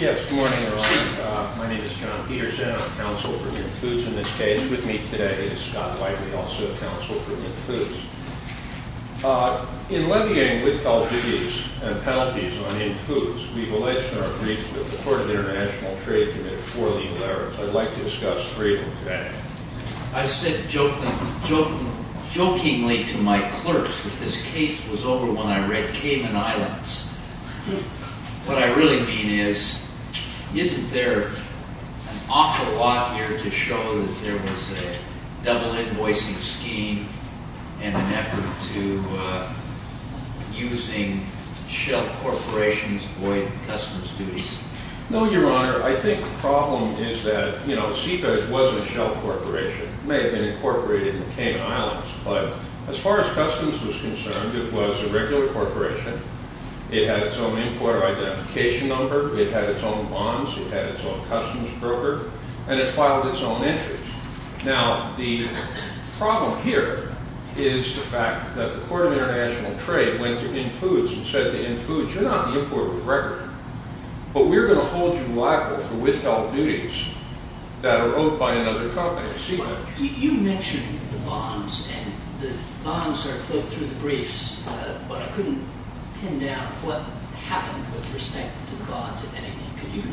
Good morning, everyone. My name is John Peterson. I'm the counsel for Inn Foods in this case. With me today is Scott White, we also counsel for Inn Foods. In levying withhold duties and penalties on Inn Foods, we've alleged in our briefs that the Court of International Trade committed four legal errors. I'd like to discuss three of them today. I said jokingly to my clerks that this case was over when I read Cayman Islands. What I really mean is, isn't there an awful lot here to show that there was a double invoicing scheme and an effort to using shell corporations to void customers' duties? No, Your Honor. I think the problem is that, you know, SICA wasn't a shell corporation. It may have been incorporated in the Cayman Islands. But as far as customs was concerned, it was a regular corporation. It had its own importer identification number. It had its own bonds. It had its own customs broker. And it filed its own entries. Now, the problem here is the fact that the Court of International Trade went to Inn Foods and said to Inn Foods, you're not the importer of the record, but we're going to hold you liable for withheld duties that are owed by another company, SeaVeg. You mentioned the bonds, and the bonds are filled through the briefs, but I couldn't pin down what happened with respect to the bonds, if anything.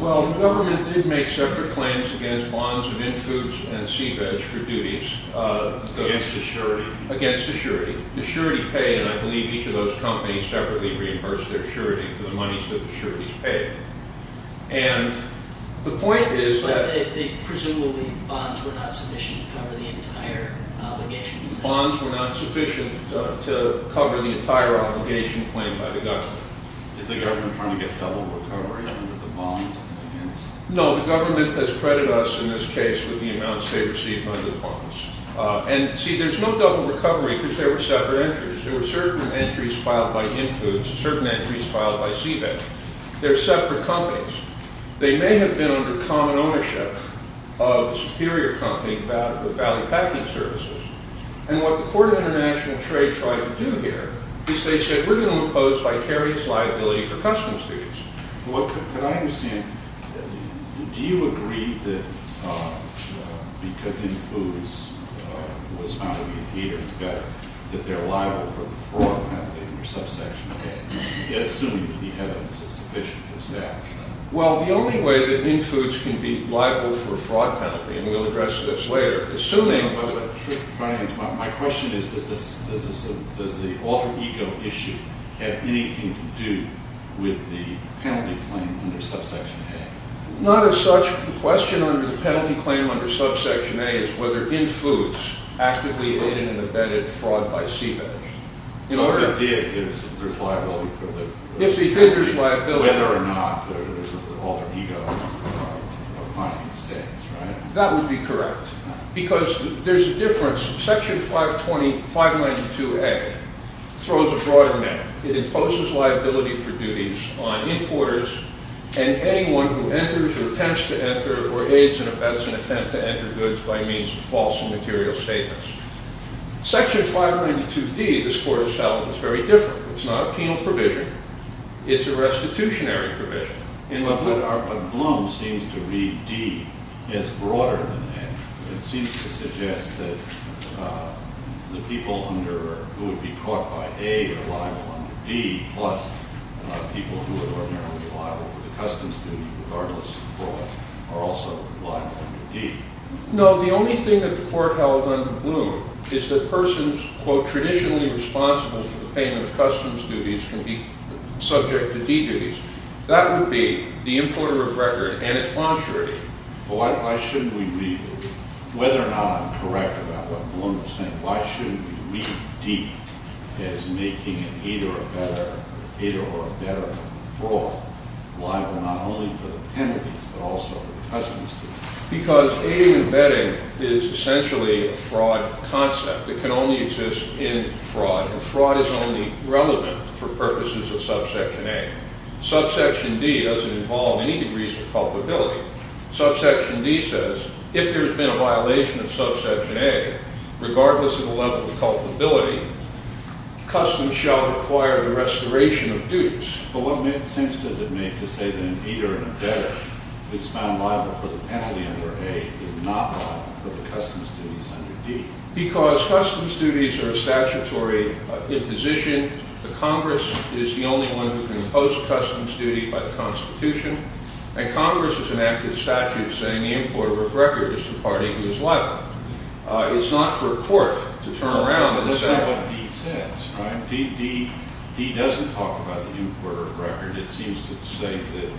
Well, the government did make separate claims against bonds of Inn Foods and SeaVeg for duties. Against the surety. Against the surety. The surety paid, and I believe each of those companies separately reimbursed their surety for the monies that the sureties paid. And the point is that— But they presumably—bonds were not sufficient to cover the entire obligation. Bonds were not sufficient to cover the entire obligation claimed by the government. Is the government trying to get double recovery under the bonds? No, the government has credited us in this case with the amounts they received under the bonds. And see, there's no double recovery because there were separate entries. There were certain entries filed by Inn Foods, certain entries filed by SeaVeg. They're separate companies. They may have been under common ownership of the superior company, Valley Packing Services. And what the Court of International Trade tried to do here is they said, we're going to impose vicarious liability for customs duties. Could I understand, do you agree that because Inn Foods was found to be a hater, that they're liable for the fraud penalty or subsection of that? Assuming that the evidence is sufficient to establish that. Well, the only way that Inn Foods can be liable for a fraud penalty, and we'll address this later, assuming— Does the alter ego issue have anything to do with the penalty claim under subsection A? Not as such. The question under the penalty claim under subsection A is whether Inn Foods actively aided and abetted fraud by SeaVeg. So if it did, there's liability for the— If they did, there's liability. Whether or not there's an alter ego finding states, right? That would be correct. Because there's a difference. Section 592A throws a broader net. It imposes liability for duties on importers and anyone who enters or attempts to enter or aids and abets an attempt to enter goods by means of false and material statements. Section 592D, this Court has found, is very different. It's not a penal provision. It's a restitutionary provision. But Bloom seems to read D as broader than that. It seems to suggest that the people who would be caught by A are liable under D, plus people who would ordinarily be liable for the customs duty regardless of fraud are also liable under D. No. The only thing that the Court held under Bloom is that persons, quote, traditionally responsible for the payment of customs duties can be subject to D duties. That would be the importer of record, and it's contrary. Why shouldn't we read—whether or not I'm correct about what Bloom is saying, why shouldn't we read D as making it either a better—either or a better fraud liable not only for the penalties but also for the customs duty? Because aid and abetting is essentially a fraud concept. It can only exist in fraud. Fraud is only relevant for purposes of subsection A. Subsection D doesn't involve any degrees of culpability. Subsection D says if there's been a violation of subsection A, regardless of the level of culpability, customs shall require the restoration of duties. But what sense does it make to say that an abeter and abetter that's found liable for the penalty under A is not liable for the customs duties under D? Because customs duties are a statutory imposition. The Congress is the only one who can impose a customs duty by the Constitution, and Congress is an active statute saying the importer of record is the party who is liable. It's not for a court to turn around and say— D doesn't talk about the importer of record. It seems to say that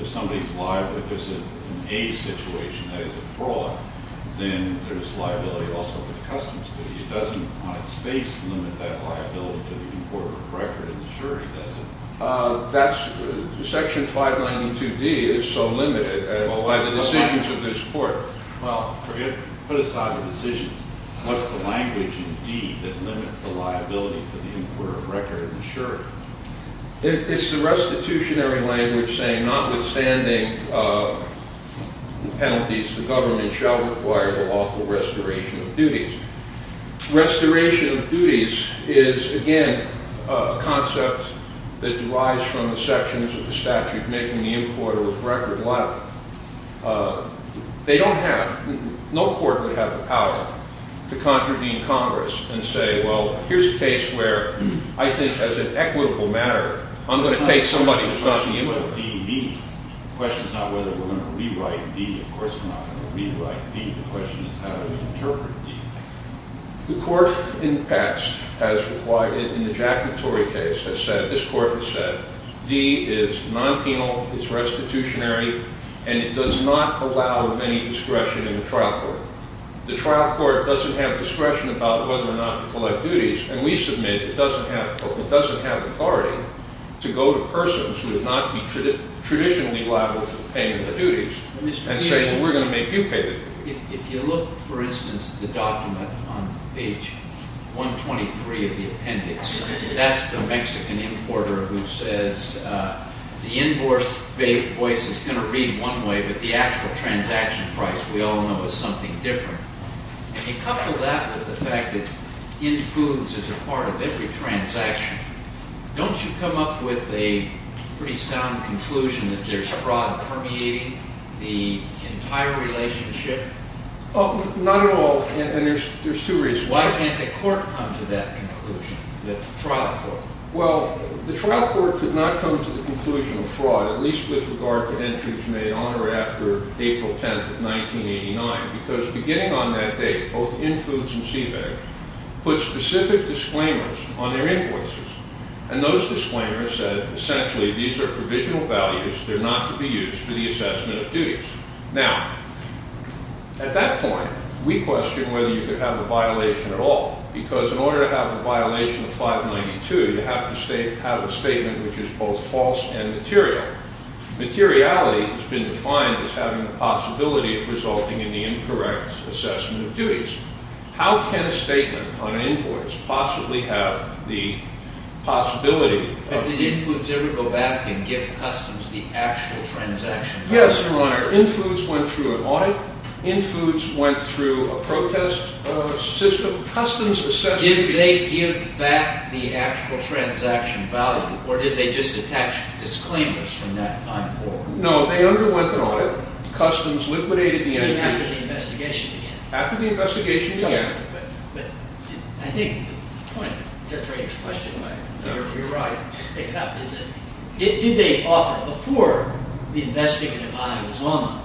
if somebody's liable—if there's an A situation, that is a fraud, then there's liability also for the customs duty. It doesn't, on its face, limit that liability to the importer of record. The jury doesn't. That's—section 592D is so limited by the decisions of this court. Well, forget—put aside the decisions. What's the language in D that limits the liability for the importer of record and the jury? It's the restitutionary language saying notwithstanding penalties, the government shall require the lawful restoration of duties. Restoration of duties is, again, a concept that derives from the sections of the statute making the importer of record liable. They don't have—no court would have the power to contravene Congress and say, well, here's a case where I think as an equitable matter, I'm going to take somebody who's not the importer. The question is not whether we're going to rewrite D. Of course we're not going to rewrite D. The question is how do we interpret D. The court in the past has required it in the Jack and Torrey case has said—this court has said D is non-penal, it's restitutionary, and it does not allow any discretion in the trial court. The trial court doesn't have discretion about whether or not to collect duties, and we submit it doesn't have authority to go to persons who would not be traditionally liable for paying the duties and say, well, we're going to make you pay the duties. If you look, for instance, at the document on page 123 of the appendix, that's the Mexican importer who says the invoice is going to read one way, but the actual transaction price we all know is something different. If you couple that with the fact that in foods is a part of every transaction, don't you come up with a pretty sound conclusion that there's fraud permeating the entire relationship? Not at all, and there's two reasons. Why can't the court come to that conclusion, the trial court? Well, the trial court could not come to the conclusion of fraud, at least with regard to entries made on or after April 10th of 1989, because beginning on that date, both in foods and CBAG, put specific disclaimers on their invoices, and those disclaimers said essentially these are provisional values, they're not to be used for the assessment of duties. Now, at that point, we question whether you could have a violation at all, because in order to have a violation of 592, you have to have a statement which is both false and material. Materiality has been defined as having the possibility of resulting in the incorrect assessment of duties. How can a statement on an invoice possibly have the possibility of... But did in foods ever go back and give customs the actual transaction price? Yes, Your Honor. In foods went through an audit. In foods went through a protest system. Customs essentially... Did they give back the actual transaction value, or did they just attach disclaimers from that time forward? No, they underwent an audit. Customs liquidated the entity... You mean after the investigation began? After the investigation began. I think the point of Judge Rader's question, if you're right, is that did they offer... Before the investigative audit was on,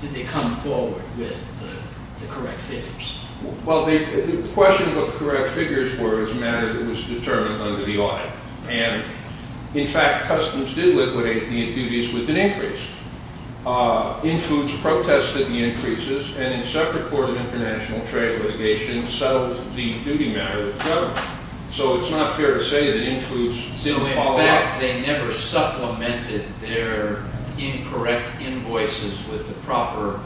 did they come forward with the correct figures? Well, the question of what the correct figures were is a matter that was determined under the audit. And, in fact, customs did liquidate the duties with an increase. In foods protested the increases, and in separate court of international trade litigation settled the duty matter with the government. So it's not fair to say that in foods didn't follow up. So, in fact, they never supplemented their incorrect invoices with the proper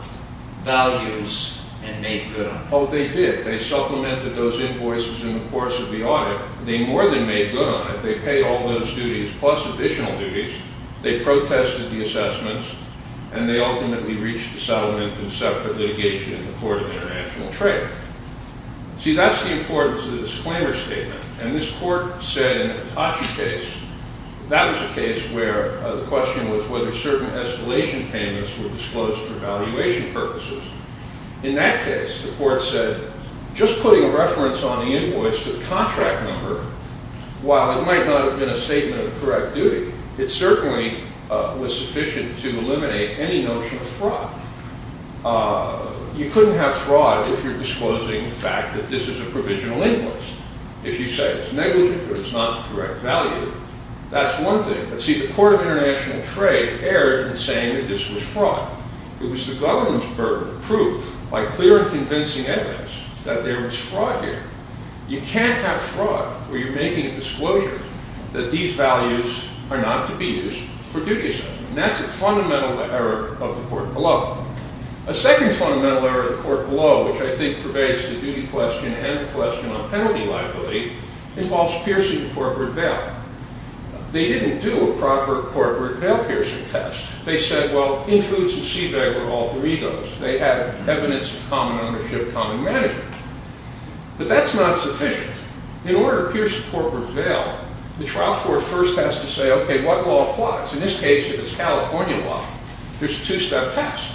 values and made good on them? Oh, they did. They supplemented those invoices in the course of the audit. They more than made good on it. They paid all those duties, plus additional duties. They protested the assessments, and they ultimately reached a settlement in separate litigation in the court of international trade. See, that's the importance of the disclaimer statement. And this court said in the Hitachi case, that was a case where the question was whether certain escalation payments were disclosed for valuation purposes. In that case, the court said, just putting a reference on the invoice to the contract number, while it might not have been a statement of correct duty, it certainly was sufficient to eliminate any notion of fraud. You couldn't have fraud if you're disclosing the fact that this is a provisional invoice. If you say it's negligent or it's not the correct value, that's one thing. But see, the court of international trade erred in saying that this was fraud. It was the government's burden to prove by clear and convincing evidence that there was fraud here. You can't have fraud where you're making a disclosure that these values are not to be used for duty assessment. And that's a fundamental error of the court below. A second fundamental error of the court below, which I think pervades the duty question and the question on penalty liability, involves piercing a corporate veil. They didn't do a proper corporate veil piercing test. They said, well, in foods and seabed were all burritos. They had evidence of common ownership, common management. But that's not sufficient. In order to pierce a corporate veil, the trial court first has to say, OK, what law applies? In this case, if it's California law, there's a two-step test.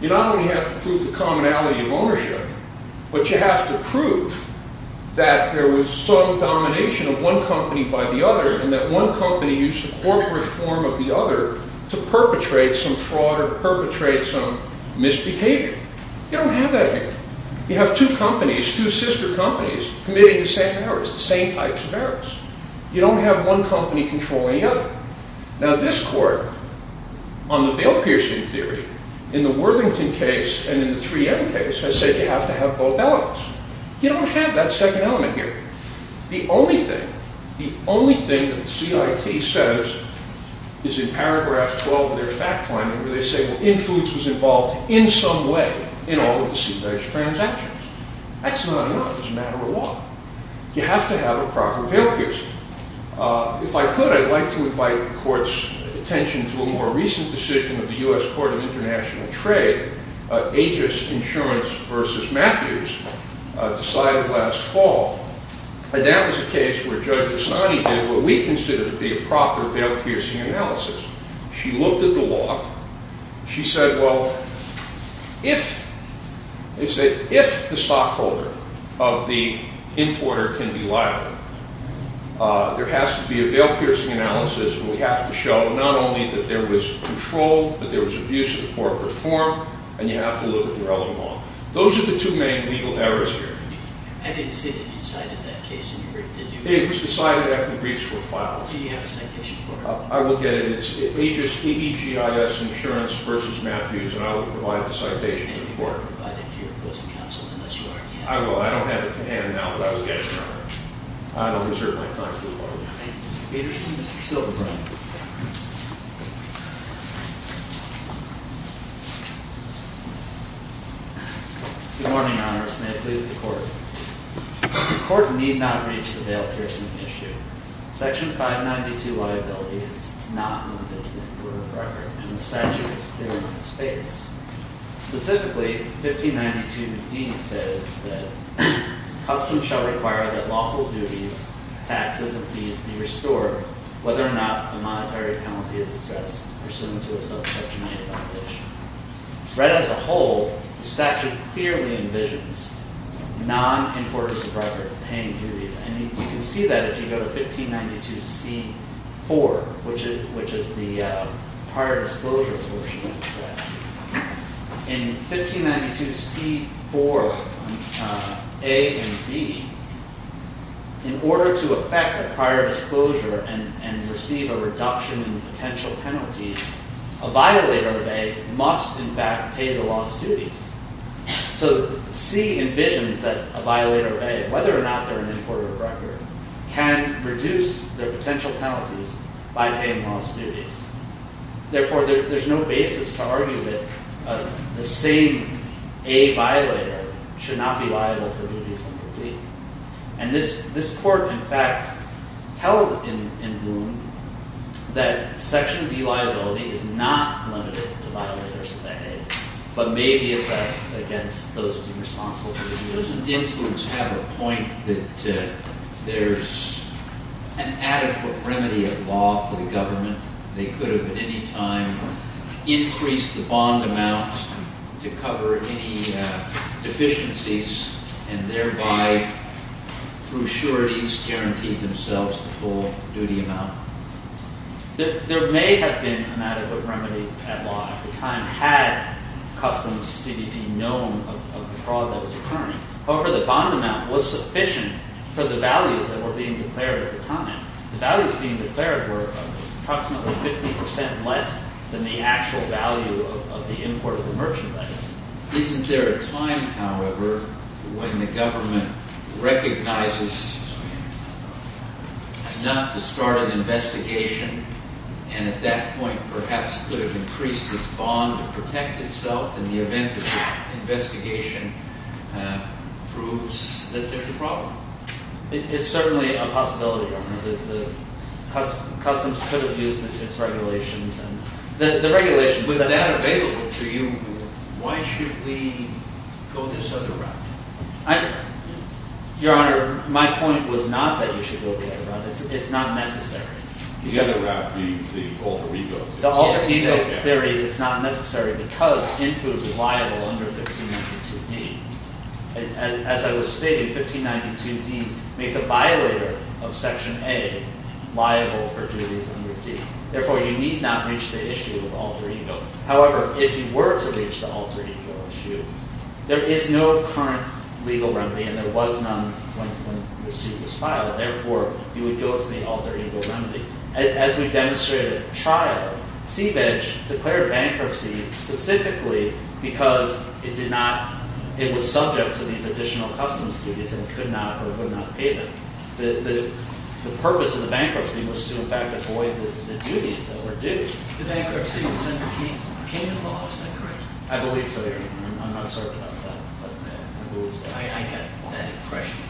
You not only have to prove the commonality of ownership, but you have to prove that there was some domination of one company by the other and that one company used the corporate form of the other to perpetrate some fraud or to perpetrate some misbehavior. You don't have that here. You have two companies, two sister companies, committing the same errors, the same types of errors. You don't have one company controlling the other. Now, this court, on the veil piercing theory, in the Worthington case and in the 3M case, has said you have to have both elements. You don't have that second element here. The only thing, the only thing that the CIT says is in paragraph 12 of their fact line, where they say, well, Infoods was involved in some way in all of the sea bass transactions. That's not enough. It's a matter of law. You have to have a proper veil piercing. If I could, I'd like to invite the court's attention to a more recent decision of the U.S. Court of International Trade, Aegis Insurance versus Matthews, decided last fall. And that was a case where Judge Asani did what we consider to be a proper veil piercing analysis. She looked at the law. She said, well, if, they said, if the stockholder of the importer can be liable, there has to be a veil piercing analysis and we have to show not only that there was control, but there was abuse of the corporate form, and you have to look at the relevant law. Those are the two main legal errors here. I didn't see that you cited that case in your brief, did you? It was decided after the briefs were filed. Do you have a citation for it? I will get it. It's Aegis Insurance versus Matthews, and I will provide the citation for it. And you won't provide it to your opposing counsel unless you already have it. I will. I don't have it at hand now, but I will get it. I don't deserve my time. Thank you, Mr. Peterson. Thank you, Mr. Silverbrine. Good morning, Honorars. May it please the Court. The Court need not reach the veil piercing issue. Section 592 liability is not limited to the importer of record, and the statute is clear on its face. Specifically, 1592d says that, Customs shall require that lawful duties, taxes, and fees be restored, whether or not the monetary penalty is assessed pursuant to a self-selectionated violation. As a whole, the statute clearly envisions non-importers of record paying duties, and you can see that if you go to 1592c.4, which is the prior disclosure portion of the statute, in 1592c.4a and b, in order to effect a prior disclosure and receive a reduction in potential penalties, a violator of a must, in fact, pay the lost duties. So c envisions that a violator of a, whether or not they're an importer of record, can reduce their potential penalties by paying lost duties. Therefore, there's no basis to argue that the same a violator should not be liable for duties incomplete. And this Court, in fact, held in Bloom that Section d liability is not limited to violators of a, but may be assessed against those deemed responsible for the duties. But doesn't influence have a point that there's an adequate remedy of law for the government? They could have at any time increased the bond amount to cover any deficiencies, and thereby, through sureties, guaranteed themselves the full duty amount. There may have been an adequate remedy at law at the time, had customs CDP known of the fraud that was occurring. However, the bond amount was sufficient for the values that were being declared at the time. The values being declared were approximately 50% less than the actual value of the import of the merchandise. Isn't there a time, however, when the government recognizes enough to start an investigation, and at that point, perhaps could have increased its bond to protect itself in the event that the investigation proves that there's a problem? It's certainly a possibility, Your Honor. Customs could have used its regulations. With that available to you, why should we go this other route? Your Honor, my point was not that you should go the other route. It's not necessary. The other route, the alter ego theory. The alter ego theory is not necessary, because INFU is liable under 1592D. As I was stating, 1592D makes a violator of Section A liable for duties under D. Therefore, you need not reach the issue of alter ego. However, if you were to reach the alter ego issue, there is no current legal remedy, and there was none when this suit was filed. Therefore, you would go to the alter ego remedy. As we demonstrated at trial, CVEJ declared bankruptcy specifically because it was subject to these additional customs duties and could not or would not pay them. The purpose of the bankruptcy was to, in fact, avoid the duties that were due. The bankruptcy was under kingdom law. Is that correct? I believe so, Your Honor. I'm not certain of that, but I believe so. I get that impression.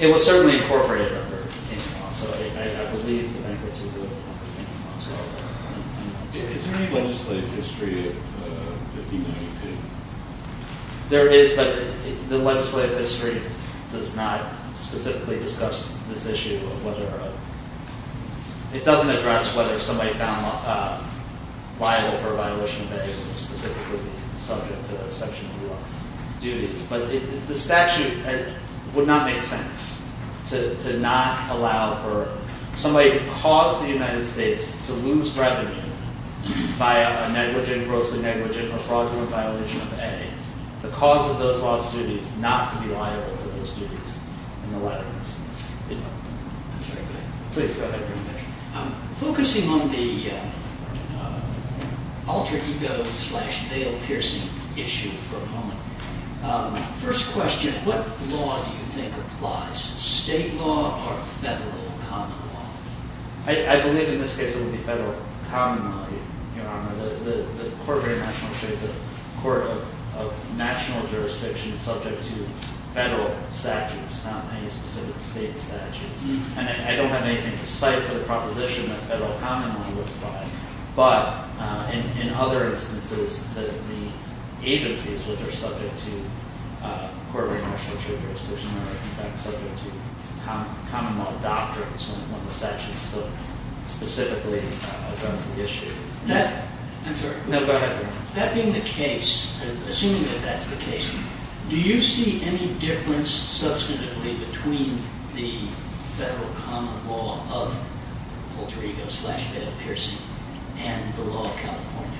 It was certainly incorporated under kingdom law, so I believe the bankruptcy was under kingdom law as well. Is there any legislative history of 1592? There is, but the legislative history does not specifically discuss this issue of whether or not. The statute would not make sense to not allow for somebody who caused the United States to lose revenue by a negligent, grossly negligent, or fraudulent violation of A, the cause of those lost duties, not to be liable for those duties in the latter instance. I'm sorry, go ahead. Please, go ahead. Focusing on the alter ego slash Dale Pearson issue for a moment, first question, what law do you think applies? State law or federal common law? I believe in this case it would be federal common law, Your Honor. The court of national jurisdiction is subject to federal statutes, not any specific state statutes. And I don't have anything to cite for the proposition that federal common law would apply. But in other instances, the agencies which are subject to court of national jurisdiction are in fact subject to common law doctrines when the statute is specifically addressed the issue. I'm sorry. No, go ahead. That being the case, assuming that that's the case, do you see any difference substantively between the federal common law of alter ego slash Dale Pearson and the law of California?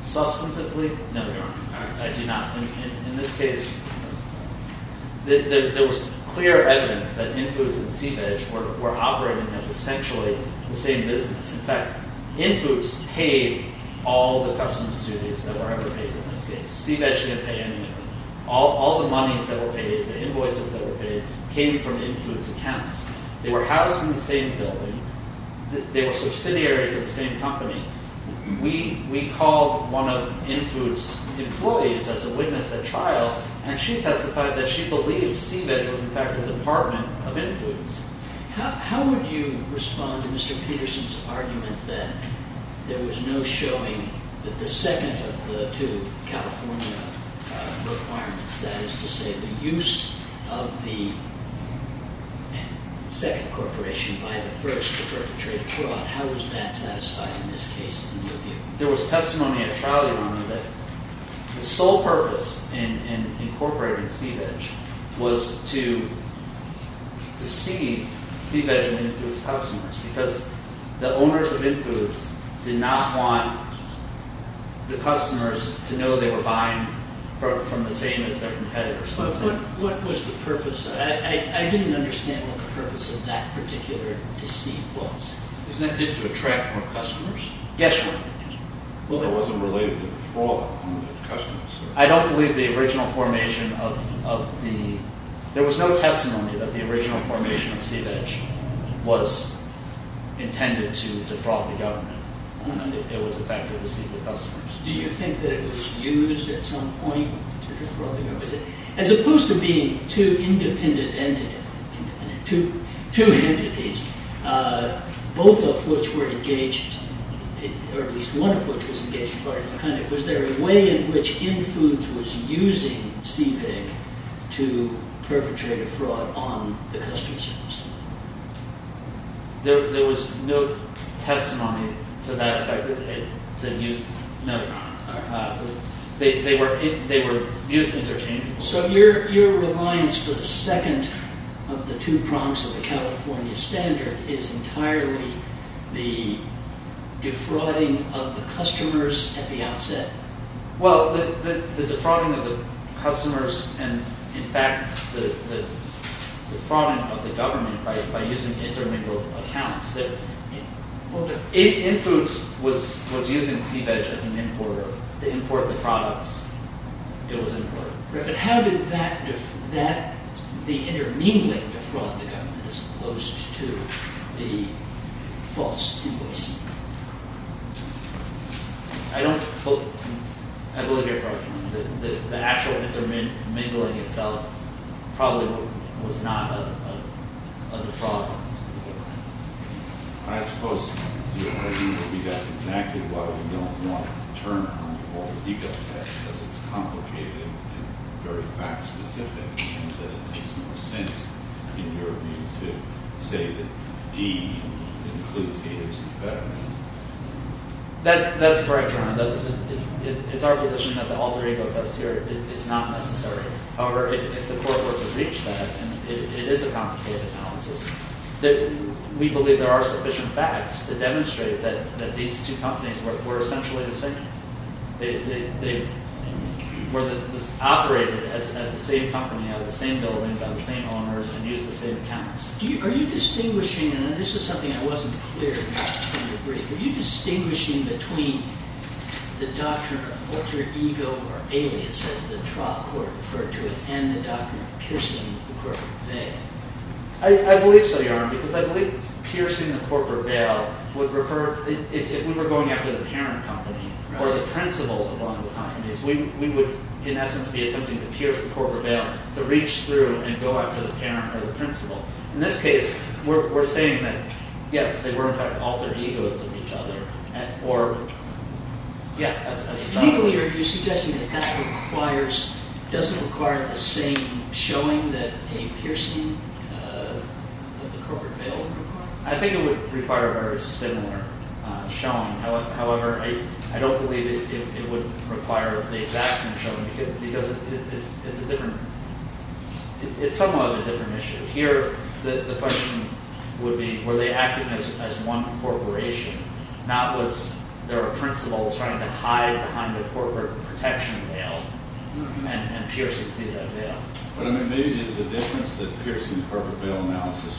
Substantively? No, Your Honor. I do not. In this case, there was clear evidence that Infoods and Sea Veg were operating as essentially the same business. In fact, Infoods paid all the customs duties that were ever paid in this case. Sea Veg didn't pay any of them. All the monies that were paid, the invoices that were paid, came from Infoods' accounts. They were housed in the same building. They were subsidiaries of the same company. We called one of Infoods' employees as a witness at trial, and she testified that she believed Sea Veg was in fact the department of Infoods. How would you respond to Mr. Peterson's argument that there was no showing that the second of the two California requirements, that is to say the use of the second corporation by the first to perpetrate a fraud, how is that satisfied in this case in your view? There was testimony at trial, Your Honor, that the sole purpose in incorporating Sea Veg was to deceive Sea Veg and Infoods' customers because the owners of Infoods did not want the customers to know they were buying from the same as their competitors. What was the purpose? I didn't understand what the purpose of that particular deceit was. Isn't that just to attract more customers? Yes, Your Honor. It wasn't related to the fraud on the customers. I don't believe the original formation of the... there was no testimony that the original formation of Sea Veg was intended to defraud the government. It was the fact that it deceived the customers. Do you think that it was used at some point to defraud the government? As opposed to being two independent entities, both of which were engaged, or at least one of which was engaged, was there a way in which Infoods was using Sea Veg to perpetrate a fraud on the customers? There was no testimony to that effect. They were used interchangeably. So your reliance for the second of the two prongs of the California standard is entirely the defrauding of the customers at the outset? Well, the defrauding of the customers and, in fact, the defrauding of the government by using intermingled accounts. Infoods was using Sea Veg as an importer to import the products. It was imported. But how did the intermingling defraud the government as opposed to the false invoice? I believe you're correct. The actual intermingling itself probably was not a defrauding. I suppose your idea would be that's exactly why we don't want to turn on the alter ego test, because it's complicated and very fact-specific, and that it makes more sense, in your view, to say that D includes haters and betterment. That's correct, Ron. It's our position that the alter ego test here is not necessary. However, if the court were to reach that, and it is a complicated analysis, that we believe there are sufficient facts to demonstrate that these two companies were essentially the same. They were operated as the same company, out of the same buildings, by the same owners, and used the same accounts. Are you distinguishing between the doctrine of alter ego or alias, as the trial court referred to it, and the doctrine of piercing the corporate veil? I believe so, because I believe piercing the corporate veil would refer, if we were going after the parent company or the principal of one of the companies, we would, in essence, be attempting to pierce the corporate veil, to reach through and go after the parent or the principal. In this case, we're saying that, yes, they were, in fact, alter egos of each other. Legally, are you suggesting that that doesn't require the same showing that a piercing of the corporate veil requires? I think it would require a very similar showing. However, I don't believe it would require the exact same showing, because it's somewhat of a different issue. Here, the question would be, were they acting as one corporation? Not was there a principal trying to hide behind a corporate protection veil and pierce it through that veil? Maybe it is the difference that piercing the corporate veil analysis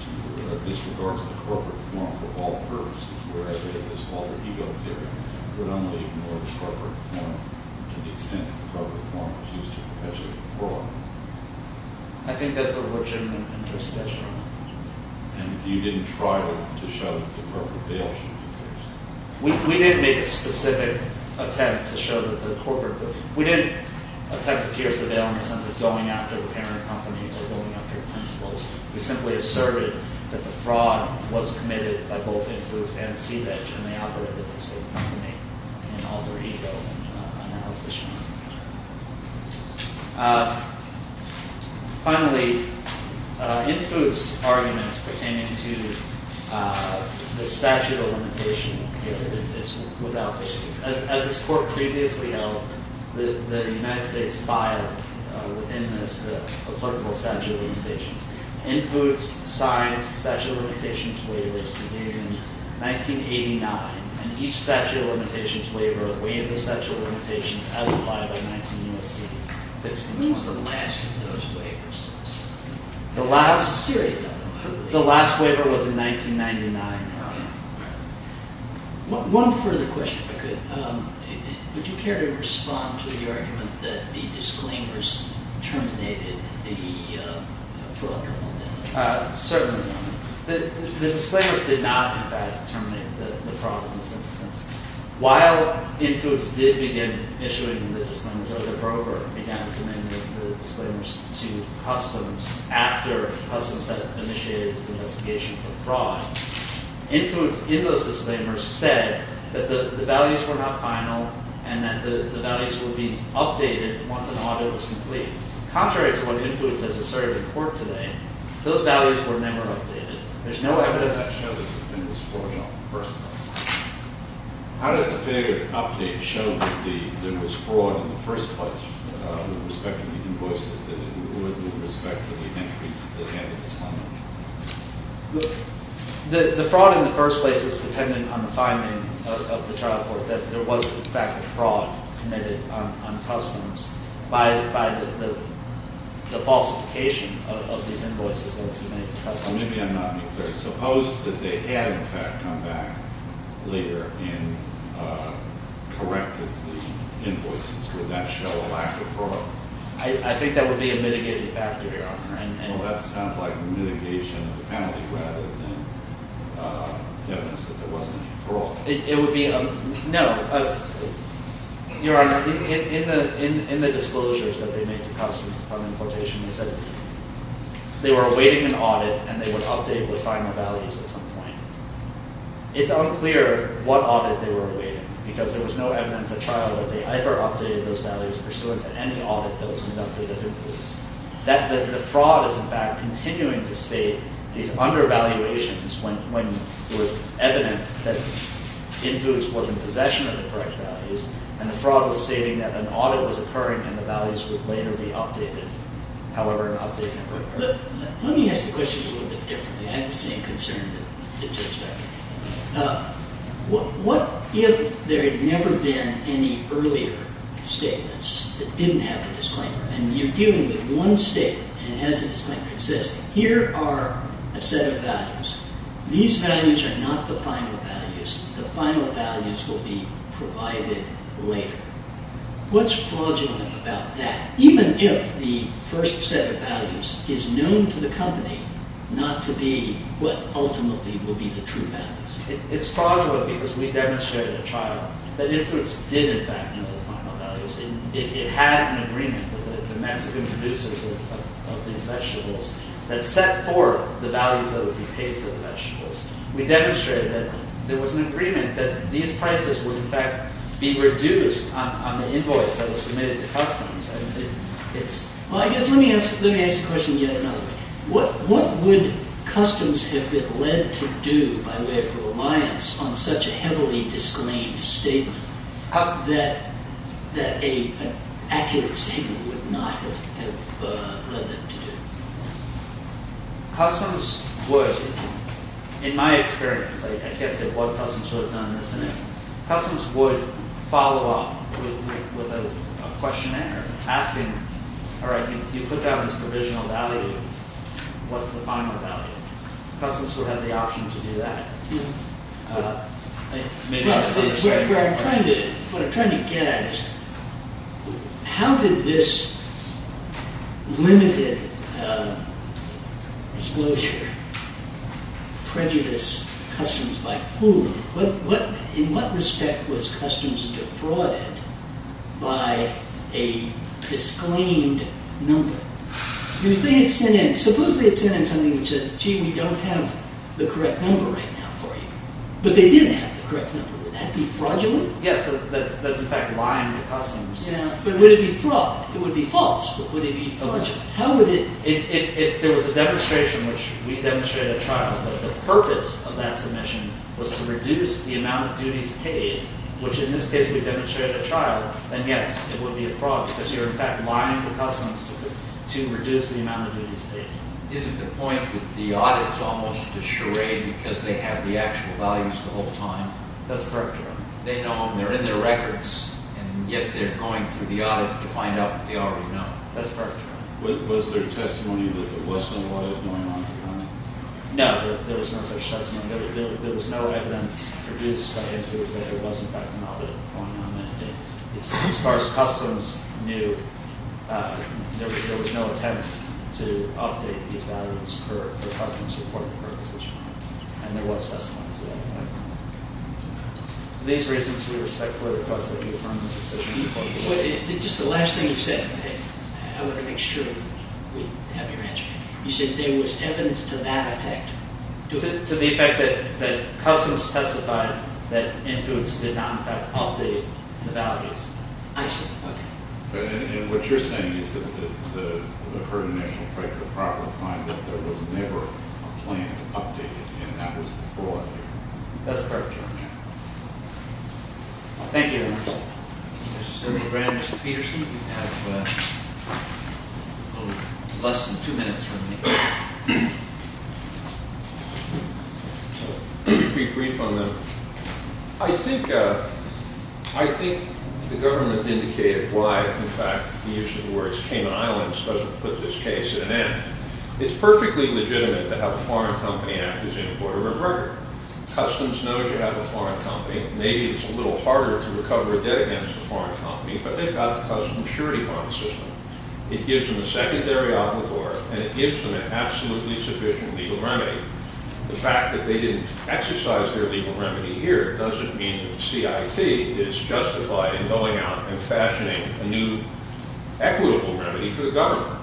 disregards the corporate form for all purposes, whereas this alter ego theory would only ignore the corporate form to the extent that the corporate form was used to perpetuate fraud. I think that's a legitimate interest question. And you didn't try to show that the corporate veil should be pierced? We didn't make a specific attempt to show that the corporate, we didn't attempt to pierce the veil in the sense of going after the parent company or going after the principals. We simply asserted that the fraud was committed by both Infood and SeaVeg, and they operated as the same company in alter ego analysis. Finally, Infood's arguments pertaining to the statute of limitations is without basis. As this court previously held, the United States filed within the applicable statute of limitations. Infood signed the statute of limitations waivers beginning in 1989, and each statute of limitations waiver waived the statute of limitations as applied by 19 U.S.C. When was the last of those waivers? The last waiver was in 1999. One further question, if I could. Would you care to respond to the argument that the disclaimers terminated the fraud? Certainly. The disclaimers did not, in fact, terminate the fraud in this instance. While Infood's did begin issuing the disclaimers of the program, began submitting the disclaimers to customs after customs had initiated its investigation for fraud, Infood's, in those disclaimers, said that the values were not final and that the values would be updated once an audit was complete. Contrary to what Infood's has asserted in court today, those values were never updated. How does that show that there was fraud in the first place? How does the failure to update show that there was fraud in the first place with respect to the invoices, with respect to the entries that had been submitted? The fraud in the first place is dependent on the finding of the trial court that there was, in fact, a fraud committed on customs by the falsification of these invoices that had been submitted to customs. Maybe I'm not clear. Suppose that they had, in fact, come back later and corrected the invoices. Would that show a lack of fraud? I think that would be a mitigating factor, Your Honor. Well, that sounds like mitigation of the penalty rather than evidence that there wasn't any fraud. No. Your Honor, in the disclosures that they made to customs upon importation, they said they were awaiting an audit and they would update the final values at some point. It's unclear what audit they were awaiting because there was no evidence at trial that they ever updated those values pursuant to any audit that was conducted at Infood's. The fraud is, in fact, continuing to state these undervaluations when there was evidence that Infood's was in possession of the correct values, and the fraud was stating that an audit was occurring and the values would later be updated. However, an update never occurred. Let me ask the question a little bit differently. I had the same concern that Judge Decker had. What if there had never been any earlier statements that didn't have the disclaimer? And you're dealing with one statement and it has a disclaimer. It says, here are a set of values. These values are not the final values. The final values will be provided later. What's fraudulent about that? Even if the first set of values is known to the company not to be what ultimately will be the true values. It's fraudulent because we demonstrated at trial that Infood's did, in fact, know the final values. It had an agreement with the Mexican producers of these vegetables that set forth the values that would be paid for the vegetables. We demonstrated that there was an agreement that these prices would, in fact, be reduced on the invoice that was submitted to customs. Well, I guess let me ask the question yet another way. What would customs have been led to do by way of reliance on such a heavily disclaimed statement that an accurate statement would not have led them to do? Customs would, in my experience, I can't say what customs would have done in this instance. Customs would follow up with a questionnaire asking, all right, you put down this provisional value. What's the final value? Customs would have the option to do that. What I'm trying to get at is how did this limited disclosure prejudice customs by food? In what respect was customs defrauded by a disclaimed number? Supposed they had sent in something which said, gee, we don't have the correct number right now for you. But they did have the correct number. Would that be fraudulent? Yes. That's, in fact, lying to customs. But would it be fraud? It would be false. But would it be fraudulent? How would it? If there was a demonstration, which we demonstrated at trial, that the purpose of that submission was to reduce the amount of duties paid, which in this case we demonstrated at trial, then yes, it would be a fraud because you're, in fact, lying to customs to reduce the amount of duties paid. Isn't the point that the audit's almost a charade because they have the actual values the whole time? That's correct, Your Honor. They know them. They're in their records. And yet they're going through the audit to find out what they already know. That's correct, Your Honor. Was there testimony that there was no audit going on at the time? No, there was no such testimony. There was no evidence produced by injuries that there was, in fact, an audit going on that day. As far as customs knew, there was no attempt to update these values for customs reporting purposes, Your Honor. And there was testimony to that. For these reasons, we respectfully request that you affirm the decision. Just the last thing you said, I want to make sure we have your answer. You said there was evidence to that effect. To the effect that customs testified that influence did not, in fact, update the values. I see. Okay. And what you're saying is that the Herd and National Criteria properly find that there was never a plan to update it, and that was the fraud. That's correct, Your Honor. Thank you, Your Honor. Mr. Sergeant Grand, Mr. Peterson, you have less than two minutes remaining. Let me be brief on that. I think the government indicated why, in fact, the use of the words Cayman Islands doesn't put this case at an end. It's perfectly legitimate to have a foreign company act as an importer of a record. Customs knows you have a foreign company. Maybe it's a little harder to recover a debt against a foreign company, but they've got the customs surety bond system. It gives them a secondary obligor, and it gives them an absolutely sufficient legal remedy. The fact that they didn't exercise their legal remedy here doesn't mean that the CIT is justified in going out and fashioning a new equitable remedy for the government.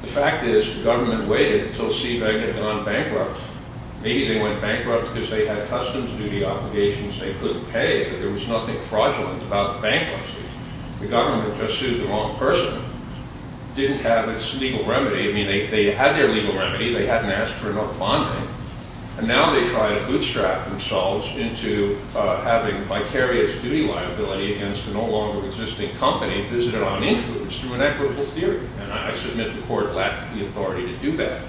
The fact is the government waited until Seabank had gone bankrupt. Maybe they went bankrupt because they had customs duty obligations they couldn't pay, but there was nothing fraudulent about the bankruptcy. The government just sued the wrong person, didn't have its legal remedy. I mean, they had their legal remedy. They hadn't asked for enough bonding, and now they try to bootstrap themselves into having vicarious duty liability against a no longer existing company visited on influence through an equitable theory. And I submit the court lacked the authority to do that.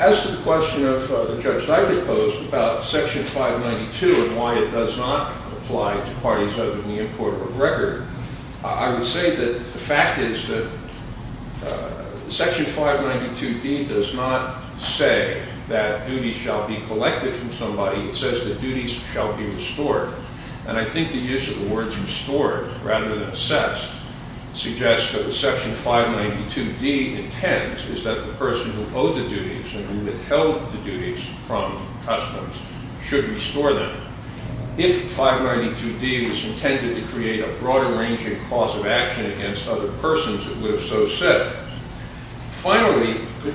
As to the question of the judge that I proposed about Section 592 and why it does not apply to parties other than the import of record, I would say that the fact is that Section 592D does not say that duties shall be collected from somebody. It says that duties shall be restored. And I think the use of the words restored rather than assessed suggests that what Section 592D intends is that the person who owed the duties and who withheld the duties from customs should restore them. If 592D was intended to create a broader range and cause of action against other persons, it would have so said. Finally… The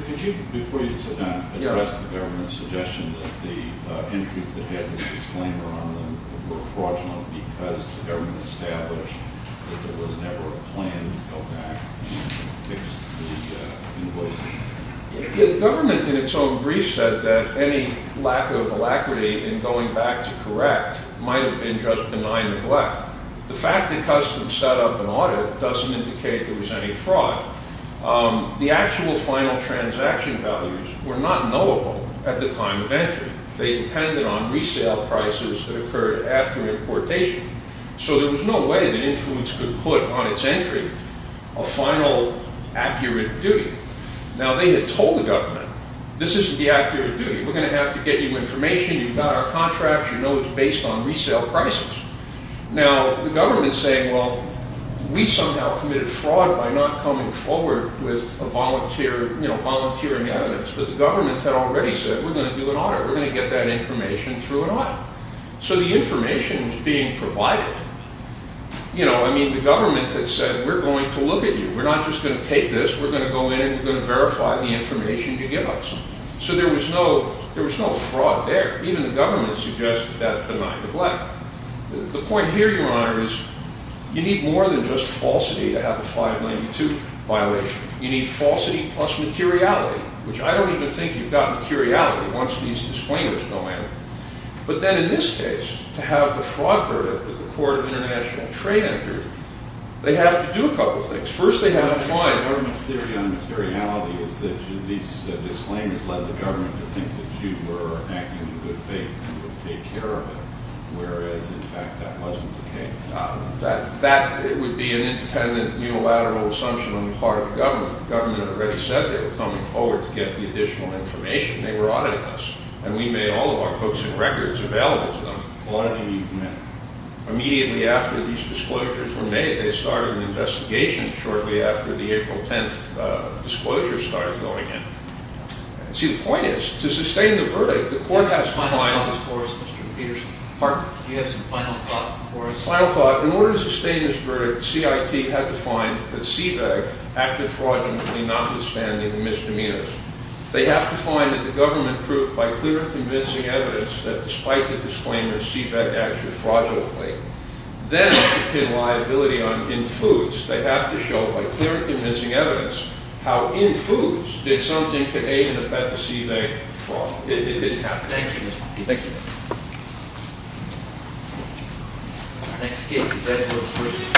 government, in its own brief, said that any lack of alacrity in going back to correct might have been just benign neglect. The fact that customs set up an audit doesn't indicate there was any fraud. The actual final transaction values were not knowable at the time of entry. They depended on resale prices that occurred after importation. So there was no way that influence could put on its entry a final accurate duty. Now, they had told the government, this isn't the accurate duty. We're going to have to get you information. You've got our contracts. You know it's based on resale prices. Now, the government is saying, well, we somehow committed fraud by not coming forward with volunteering evidence. But the government had already said, we're going to do an audit. We're going to get that information through an audit. So the information was being provided. You know, I mean, the government had said, we're going to look at you. We're not just going to take this. We're going to go in and we're going to verify the information you give us. So there was no fraud there. Even the government suggested that benign neglect. The point here, Your Honor, is you need more than just falsity to have a 592 violation. You need falsity plus materiality, which I don't even think you've got materiality once these disclaimers go in. But then in this case, to have the fraud verdict that the Court of International Trade entered, they have to do a couple things. First, they have to find— The government's theory on materiality is that these disclaimers led the government to think that you were acting in good faith and would take care of it. Whereas, in fact, that wasn't the case. That would be an independent, unilateral assumption on the part of the government. The government had already said they were coming forward to get the additional information. They were auditing us. And we made all of our books and records available to them. What do you mean? Immediately after these disclosures were made, they started an investigation shortly after the April 10th disclosure started going in. See, the point is, to sustain the verdict, the Court has to find— Mr. Peterson. Pardon? Do you have some final thought before us? Final thought. In order to sustain this verdict, CIT had to find that CVEG acted fraudulently, notwithstanding the misdemeanors. They have to find that the government proved, by clear and convincing evidence, that despite the disclaimers, CVEG acted fraudulently. Then, to pin liability on in-foods, they have to show, by clear and convincing evidence, how in-foods did something to aid and affect the CVEG fraud. It didn't happen. Thank you. Thank you.